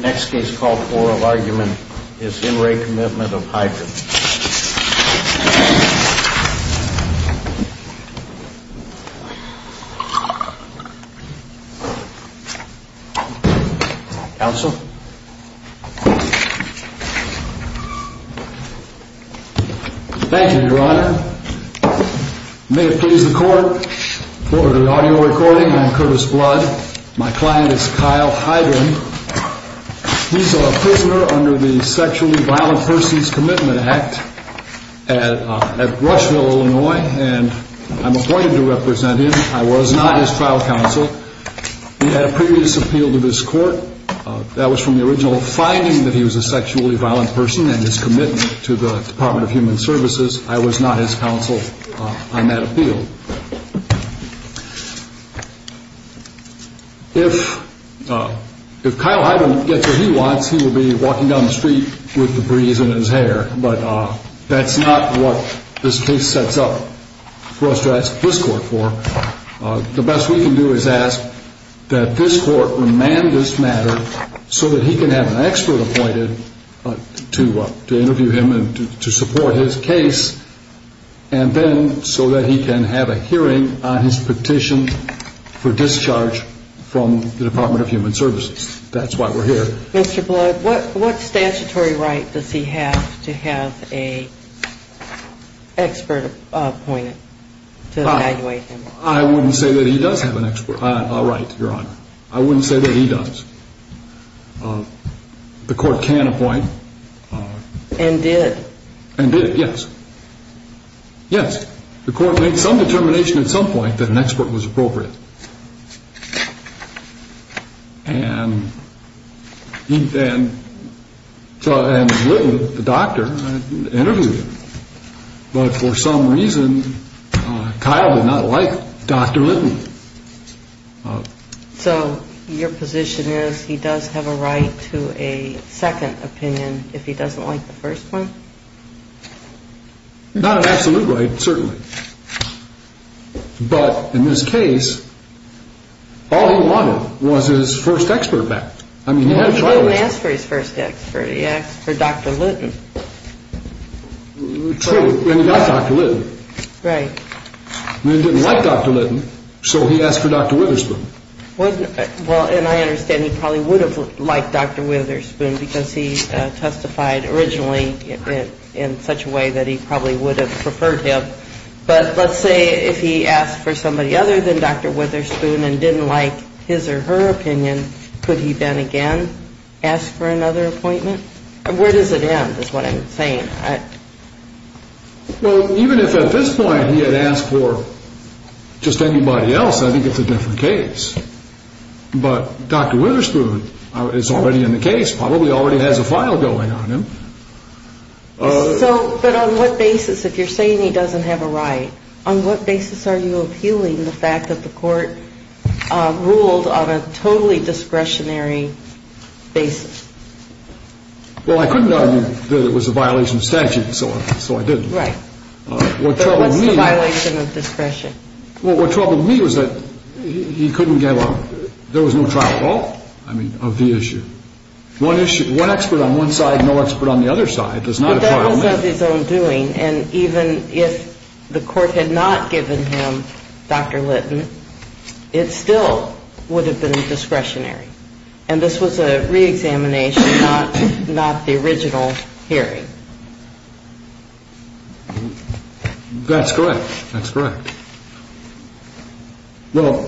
Next case called for of argument is Henry Commitment of Hydron. Counsel. Thank you, your honor. May it please the court, for the audio recording, I'm Curtis Blood. My client is Kyle Hydron. He's a prisoner under the Sexually Violent Persons Commitment Act at Rushville, Illinois, and I'm appointed to represent him. I was not his trial counsel. He had a previous appeal to this court. That was from the original finding that he was a sexually violent person and his commitment to the Department of Human Services. I was not his counsel on that appeal. If Kyle Hydron gets what he wants, he will be walking down the street with debris in his hair, but that's not what this case sets up for us to ask this court for. The best we can do is ask that this court remand this matter so that he can have an expert appointed to interview him and to support his case, and then so that he can have a hearing on his petition for discharge from the Department of Human Services. That's why we're here. Mr. Blood, what statutory right does he have to have an expert appointed to evaluate him? I wouldn't say that he does have a right, your honor. I wouldn't say that he does. The court can appoint. And did. And did, yes. The court made some determination at some point that an expert was appropriate. And he then, and Littman, the doctor, interviewed him. But for some reason, Kyle did not like Dr. Littman. So your position is he does have a right to a second opinion if he doesn't like the first one? Not an absolute right, certainly. But in this case, all he wanted was his first expert back. He didn't ask for his first expert. He asked for Dr. Littman. True, and he got Dr. Littman. Right. He didn't like Dr. Littman, so he asked for Dr. Witherspoon. Well, and I understand he probably would have liked Dr. Witherspoon because he testified originally in such a way that he probably would have preferred him. But let's say if he asked for somebody other than Dr. Witherspoon and didn't like his or her opinion, could he then again ask for another appointment? Where does it end is what I'm saying. Well, even if at this point he had asked for just anybody else, I think it's a different case. But Dr. Witherspoon is already in the case, probably already has a file going on him. So, but on what basis, if you're saying he doesn't have a right, on what basis are you appealing the fact that the court ruled on a totally discretionary basis? Well, I couldn't argue that it was a violation of statute, so I didn't. But what's the violation of discretion? Well, what troubled me was that he couldn't get, well, there was no trial at all, I mean, of the issue. One issue, one expert on one side, no expert on the other side, there's not a trial. But that was of his own doing, and even if the court had not given him Dr. Littman, it still would have been discretionary. And this was a reexamination, not the original hearing. That's correct. That's correct. Well,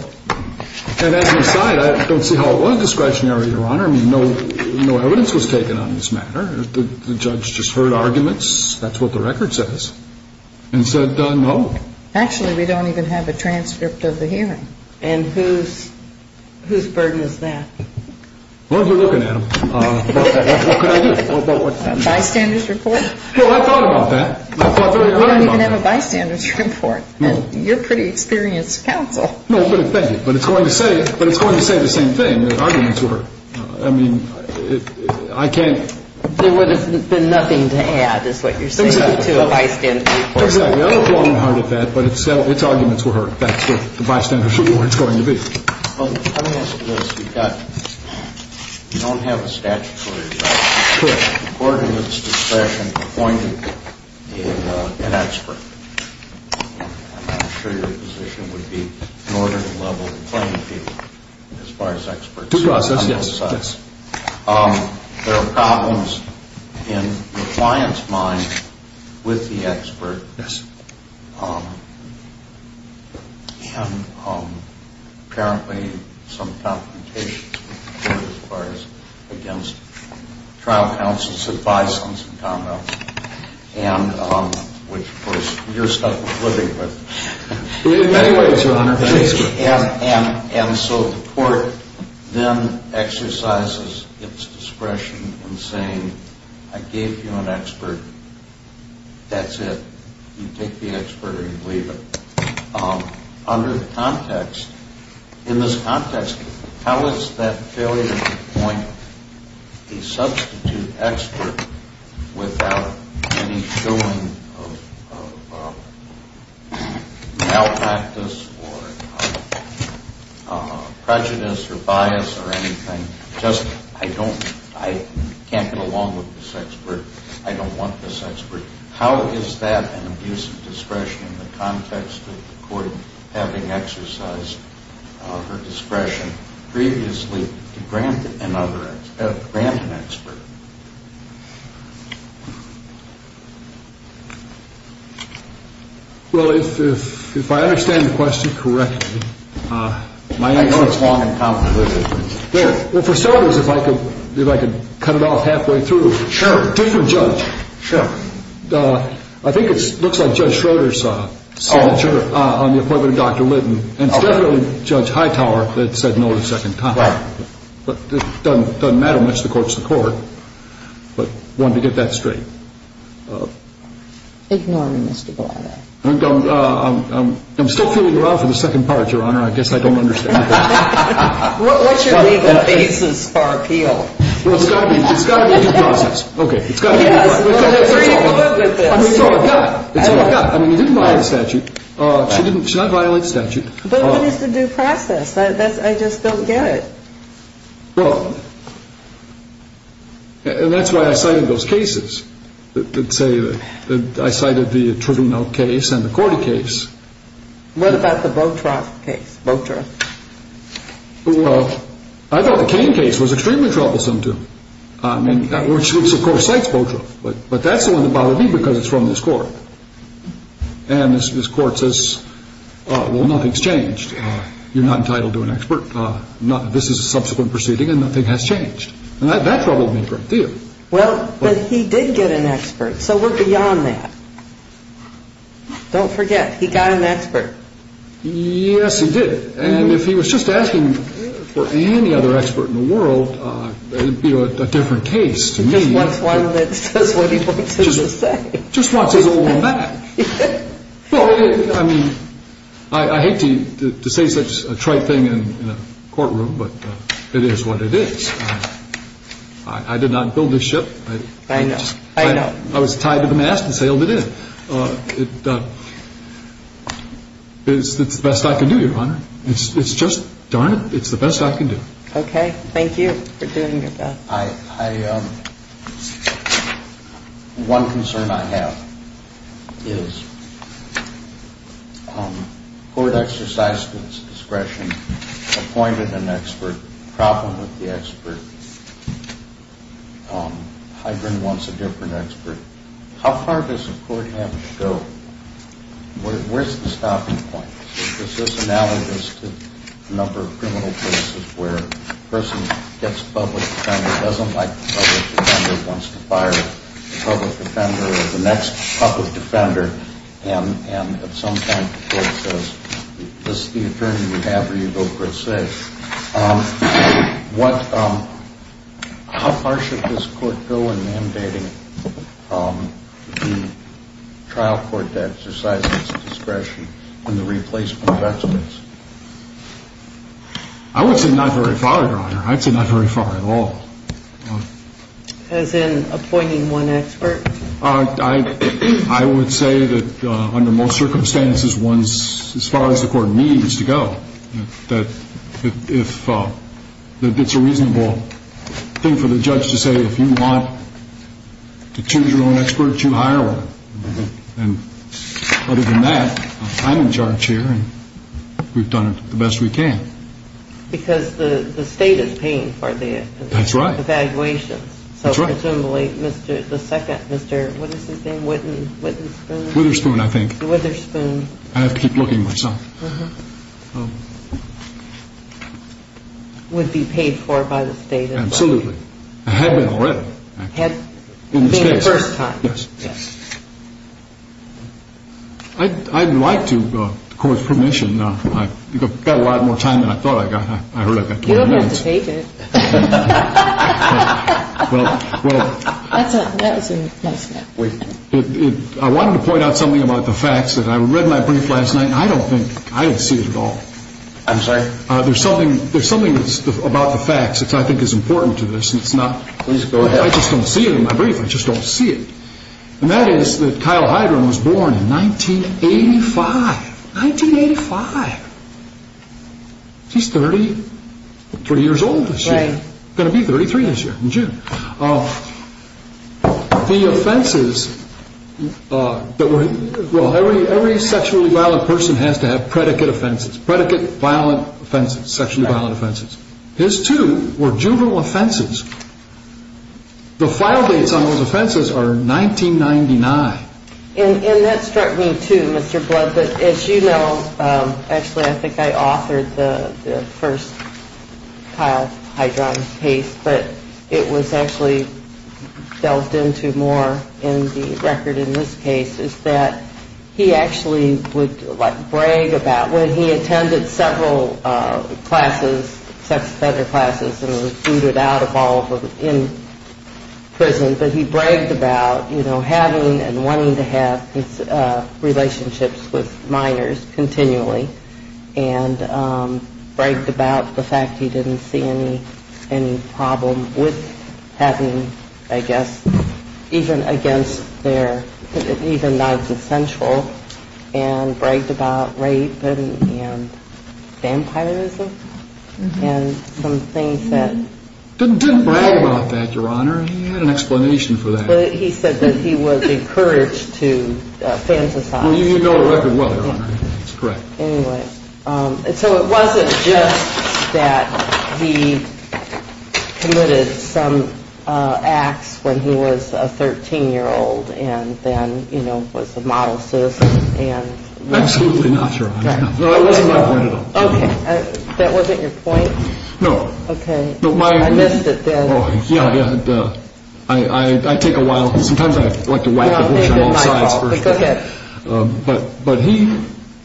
and as an aside, I don't see how it was discretionary, Your Honor. I mean, no evidence was taken on this matter. The judge just heard arguments, that's what the record says, and said no. Actually, we don't even have a transcript of the hearing. And whose burden is that? Well, if you're looking at them, what could I do? A bystander's report? Well, I thought about that. I thought very hard about that. We don't even have a bystander's report, and you're a pretty experienced counsel. No, but thank you. But it's going to say the same thing, that arguments were heard. I mean, I can't... There would have been nothing to add, is what you're saying, to a bystander's report. Exactly. I look long and hard at that, but its arguments were heard. That's what the bystander's report's going to be. Well, let me ask you this. You don't have a statutory right. You could, according to this discretion, appoint an expert. I'm not sure your position would be in order to level the playing field, as far as experts are concerned. Yes. There are problems in the client's mind with the expert. Yes. And apparently, some confrontations were heard, as far as, against trial counsel's advice on some comments, which, of course, you're stuck with living with. In many ways, Your Honor. And so the court then exercises its discretion in saying, I gave you an expert. That's it. You take the expert or you leave it. Under the context, in this context, how is that failure to appoint a substitute expert without any showing of malpractice or prejudice or bias or anything? Just, I don't, I can't get along with this expert. I don't want this expert. How is that an abuse of discretion in the context of the court having exercised her discretion previously to grant an expert? Well, if I understand the question correctly, I know it's long and complicated. For starters, if I could cut it off halfway through. Sure. Due to a judge. Sure. I think it looks like Judge Schroeder's signature on the appointment of Dr. Litton. And it's definitely Judge Hightower that said no a second time. Right. But it doesn't matter much. The court's the court. But I wanted to get that straight. Ignore me, Mr. Gallardo. I'm still feeling around for the second part, Your Honor. I guess I don't understand. What should be the basis for appeal? Well, it's got to be due process. Okay, it's got to be due process. Yes, we're very good with this. It's all I've got. It's all I've got. I mean, you didn't violate the statute. She didn't, she did not violate the statute. But what is the due process? That's, I just don't get it. Well, and that's why I cited those cases. Let's say that I cited the Triggeneld case and the Cordy case. What about the Botroth case? Botroth? Well, I thought the Kane case was extremely troublesome to me. I mean, which of course cites Botroth. But that's the one that bothered me because it's from this court. And this court says, well, nothing's changed. You're not entitled to an expert. This is a subsequent proceeding and nothing has changed. And that troubled me a great deal. Well, but he did get an expert, so we're beyond that. Don't forget, he got an expert. Yes, he did. And if he was just asking for any other expert in the world, it would be a different case to me. He just wants one that says what he wants it to say. Just wants his old one back. Well, I mean, I hate to say such a trite thing in a courtroom, but it is what it is. I did not build this ship. I know. I know. I got out of the mast and sailed it in. It's the best I can do, Your Honor. It's just, darn it, it's the best I can do. Okay. Thank you for doing your job. One concern I have is court exercised its discretion, appointed an expert, a problem with the expert. Hydron wants a different expert. How far does the court have to go? Where's the stopping point? Is this analogous to a number of criminal cases where a person gets a public defender, doesn't like the public defender, wants to fire the public defender or the next public defender, and at some point the court says, this is the attorney you have or you go for a say. How far should this court go in mandating the trial court to exercise its discretion in the replacement of experts? I would say not very far, Your Honor. I'd say not very far at all. As in appointing one expert? I would say that under most circumstances, as far as the court needs to go, that it's a reasonable thing for the judge to say, if you want to choose your own expert, you hire one. And other than that, I'm in charge here and we've done the best we can. Because the state is paying for the evaluations. That's right. So presumably the second Mr. What is his name? Witherspoon? Witherspoon, I think. Witherspoon. I have to keep looking myself. Would be paid for by the state. Absolutely. It had been already. It had been the first time. Yes. I'd like to, with the court's permission, I've got a lot more time than I thought I got. You don't have to take it. That was a nice laugh. I wanted to point out something about the facts. I read my brief last night and I don't think, I didn't see it at all. I'm sorry? There's something about the facts that I think is important to this. Please go ahead. I just don't see it in my brief. I just don't see it. And that is that Kyle Heidrun was born in 1985. 1985. He's 33 years old this year. Right. Going to be 33 this year in June. The offenses that were, well, every sexually violent person has to have predicate offenses. Predicate violent offenses, sexually violent offenses. His two were juvenile offenses. The file dates on those offenses are 1999. And that struck me too, Mr. Blood. As you know, actually I think I authored the first Kyle Heidrun case, but it was actually delved into more in the record in this case, is that he actually would, like, brag about when he attended several classes, sex offender classes and was booted out of all of them in prison, but he bragged about, you know, having and wanting to have his relationships with minors continually and bragged about the fact he didn't see any problem with having, I guess, even against their, even that's essential, and bragged about rape and vampirism and some things that. Didn't brag about that, Your Honor. He had an explanation for that. He said that he was encouraged to fantasize. Well, you know the record well, Your Honor. That's correct. Anyway, so it wasn't just that he committed some acts when he was a 13-year-old and then, you know, was a model citizen and. Absolutely not, Your Honor. That wasn't my point at all. Okay. That wasn't your point? No. Okay. I missed it then. Oh, yeah, yeah. I take a while. Sometimes I like to whack the bush on all sides. Go ahead. But he,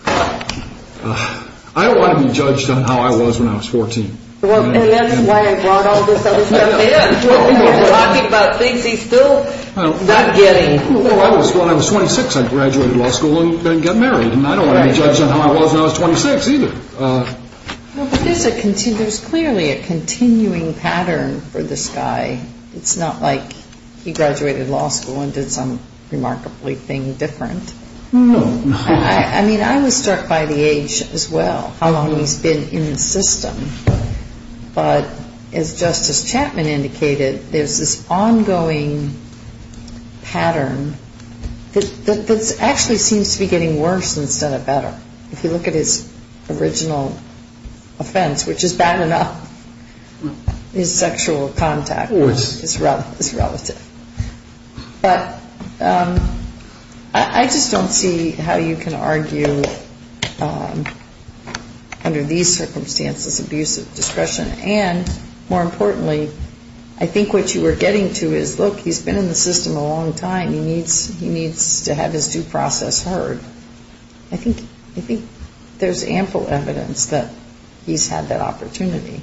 I don't want to be judged on how I was when I was 14. Well, and that's why I brought all this other stuff in. We're talking about things he's still not getting. When I was 26, I graduated law school and got married, and I don't want to be judged on how I was when I was 26 either. There's clearly a continuing pattern for this guy. It's not like he graduated law school and did some remarkably thing different. No. I mean, I was struck by the age as well, how long he's been in the system. But as Justice Chapman indicated, there's this ongoing pattern that actually seems to be getting worse instead of better. But if you look at his original offense, which is bad enough, his sexual contact is relative. But I just don't see how you can argue under these circumstances abusive discretion. And more importantly, I think what you were getting to is, look, he's been in the system a long time. He needs to have his due process heard. I think there's ample evidence that he's had that opportunity.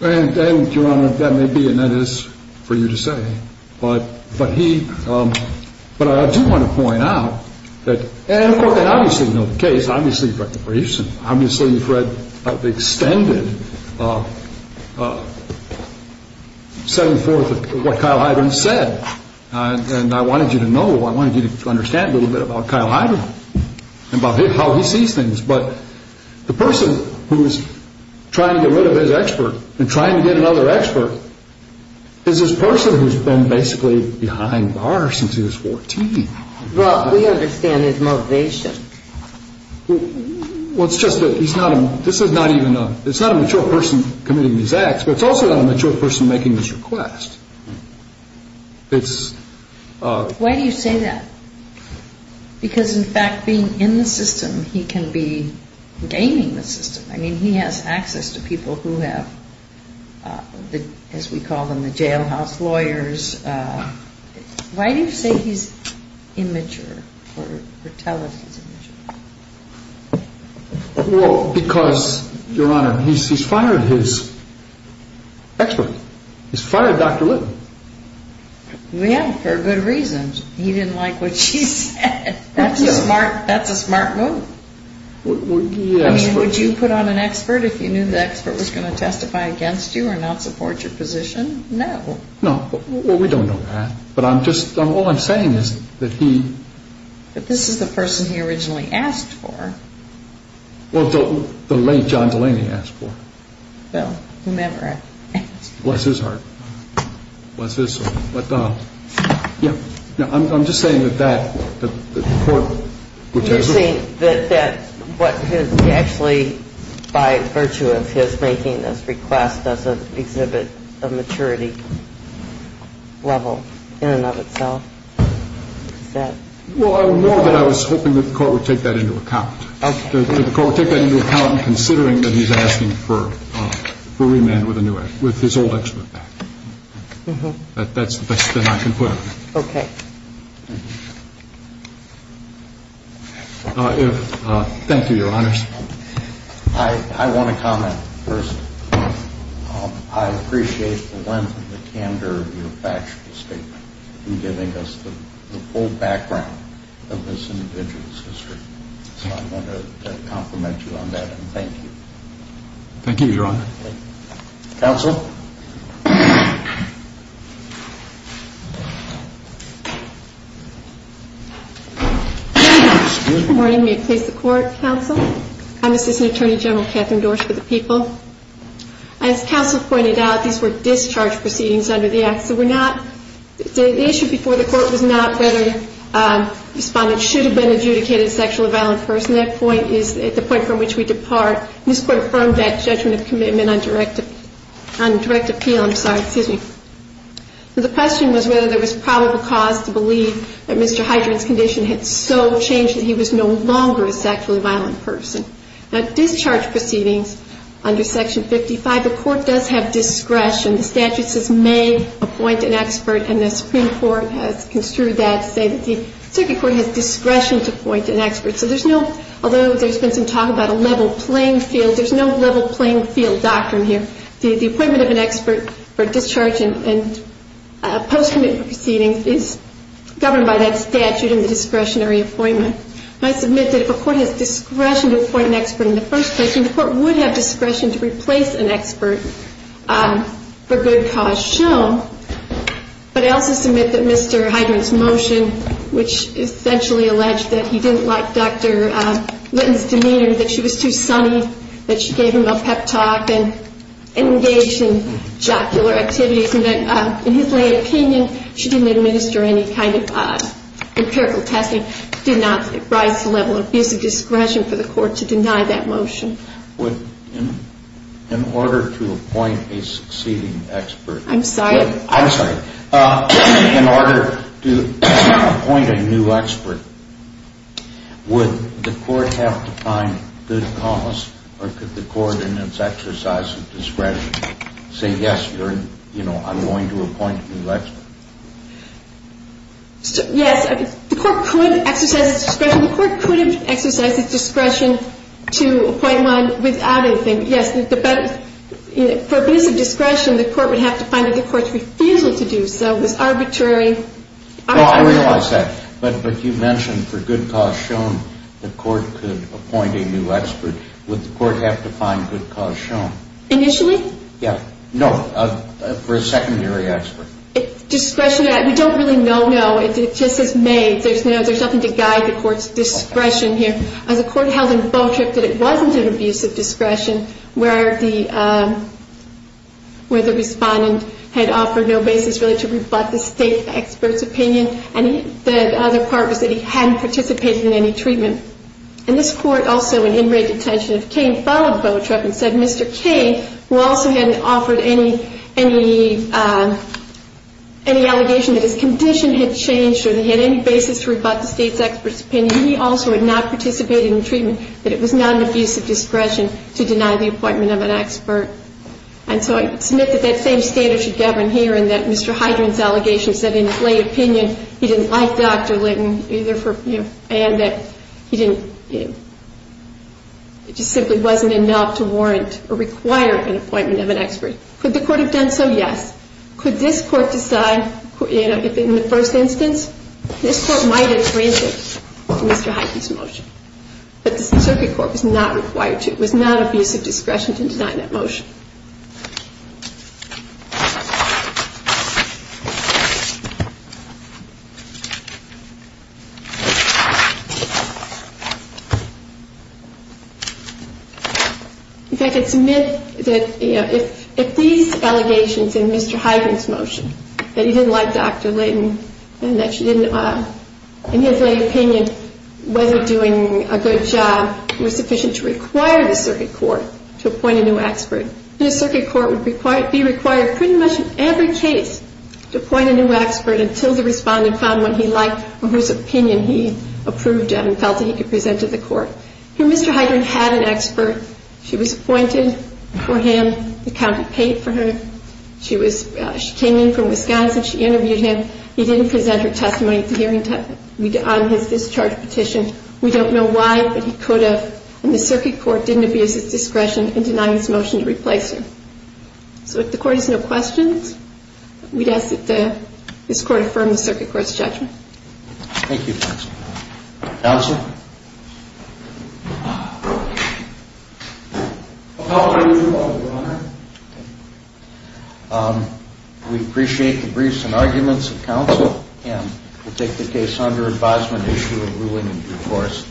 And, Your Honor, that may be, and that is for you to say. But I do want to point out that, and, of course, obviously you know the case, obviously you've read the briefs, and obviously you've read the extended setting forth of what Kyle Hyden said. And I wanted you to know, I wanted you to understand a little bit about Kyle Hyden and about how he sees things. But the person who's trying to get rid of his expert and trying to get another expert is this person who's been basically behind bars since he was 14. Well, we understand his motivation. Well, it's just that he's not a, this is not even a, it's not a mature person committing these acts, but it's also not a mature person making this request. Why do you say that? Because, in fact, being in the system, he can be gaining the system. I mean, he has access to people who have, as we call them, the jailhouse lawyers. Why do you say he's immature or tell us he's immature? Well, because, Your Honor, he's fired his expert. He's fired Dr. Lynn. Yeah, for good reasons. He didn't like what she said. That's a smart move. I mean, would you put on an expert if you knew the expert was going to testify against you or not support your position? No. No. Well, we don't know that. But I'm just, all I'm saying is that he. But this is the person he originally asked for. Well, the late John Delaney asked for. Well, whomever asked. Bless his heart. Bless his heart. But, yeah, I'm just saying that that, that the court. You're saying that what his, actually, by virtue of his making this request as an exhibit of maturity level in and of itself, is that. Well, I know that I was hoping that the court would take that into account. The court would take that into account in considering that he's asking for remand with a new expert, with his old expert back. That's the best that I can put on it. Okay. Thank you, Your Honors. I want to comment first. I appreciate the length of the candor of your factual statement in giving us the full background of this individual's history. So I'm going to compliment you on that and thank you. Thank you, Your Honor. Counsel? Good morning. May it please the Court, Counsel? I'm Assistant Attorney General Catherine Dorsch for the People. As Counsel pointed out, these were discharge proceedings under the Act. So we're not. The issue before the Court was not whether respondents should have been adjudicated as sexually violent persons. That point is the point from which we depart. This Court affirmed that judgment of commitment on direct abuse. So the question was whether there was probable cause to believe that Mr. Hydren's condition had so changed that he was no longer a sexually violent person. Now, discharge proceedings under Section 55, the Court does have discretion. The statute says may appoint an expert, and the Supreme Court has construed that to say that the Circuit Court has discretion to appoint an expert. So there's no, although there's been some talk about a level playing field, there's no level playing field doctrine here. The appointment of an expert for discharge and post-commitment proceedings is governed by that statute in the discretionary appointment. I submit that if a court has discretion to appoint an expert in the first place, then the court would have discretion to replace an expert for good cause shown. But I also submit that Mr. Hydren's motion, which essentially alleged that he didn't like Dr. Litton's demeanor, that she was too sunny, that she gave him a pep talk and engaged in jocular activities, and that in his lay opinion she didn't administer any kind of empirical testing, did not rise to the level of abusive discretion for the court to deny that motion. Would, in order to appoint a succeeding expert... I'm sorry. I'm sorry. In order to appoint a new expert, would the court have to find good cause, or could the court in its exercise of discretion say, yes, you're, you know, I'm going to appoint a new expert? Yes, the court could exercise its discretion. The court could have exercised its discretion to appoint one without anything. Yes, for abusive discretion, the court would have to find that the court's refusal to do so was arbitrary. Oh, I realize that. But you mentioned for good cause shown, the court could appoint a new expert. Would the court have to find good cause shown? Initially? Yeah. No, for a secondary expert. Discretion, we don't really know, no. It just is made. There's nothing to guide the court's discretion here. As a court held in Beautrip that it wasn't an abusive discretion where the respondent had offered no basis really to rebut the state expert's opinion, and the other part was that he hadn't participated in any treatment. And this court also, in in-rate detention of Cain, followed Beautrip and said Mr. Cain, who also hadn't offered any allegation that his condition had changed or that he had any basis to rebut the state's expert's opinion, that he also had not participated in treatment, that it was not an abusive discretion to deny the appointment of an expert. And so I submit that that same standard should govern here and that Mr. Hydren's allegation said in his lay opinion he didn't like Dr. Litton, and that he didn't, it just simply wasn't enough to warrant or require an appointment of an expert. Could the court have done so? Yes. Could this court decide, you know, if in the first instance, this court might have granted Mr. Hydren's motion, but the circuit court was not required to, was not of use of discretion to deny that motion. In fact, I submit that, you know, if these allegations in Mr. Hydren's motion, that he didn't like Dr. Litton, and that she didn't, in his lay opinion, whether doing a good job was sufficient to require the circuit court to appoint a new expert, the circuit court would be required pretty much in every case to appoint a new expert until the respondent found one he liked or whose opinion he approved of and felt that he could present to the court. Here, Mr. Hydren had an expert. She was appointed for him. The county paid for her. She came in from Wisconsin. She interviewed him. He didn't present her testimony at the hearing on his discharge petition. We don't know why, but he could have. And the circuit court didn't abuse its discretion in denying this motion to replace her. So if the court has no questions, we'd ask that this court affirm the circuit court's judgment. Thank you, counsel. Counsel? We appreciate the briefs and arguments of counsel, and we'll take the case under advisement and issue a ruling in due course.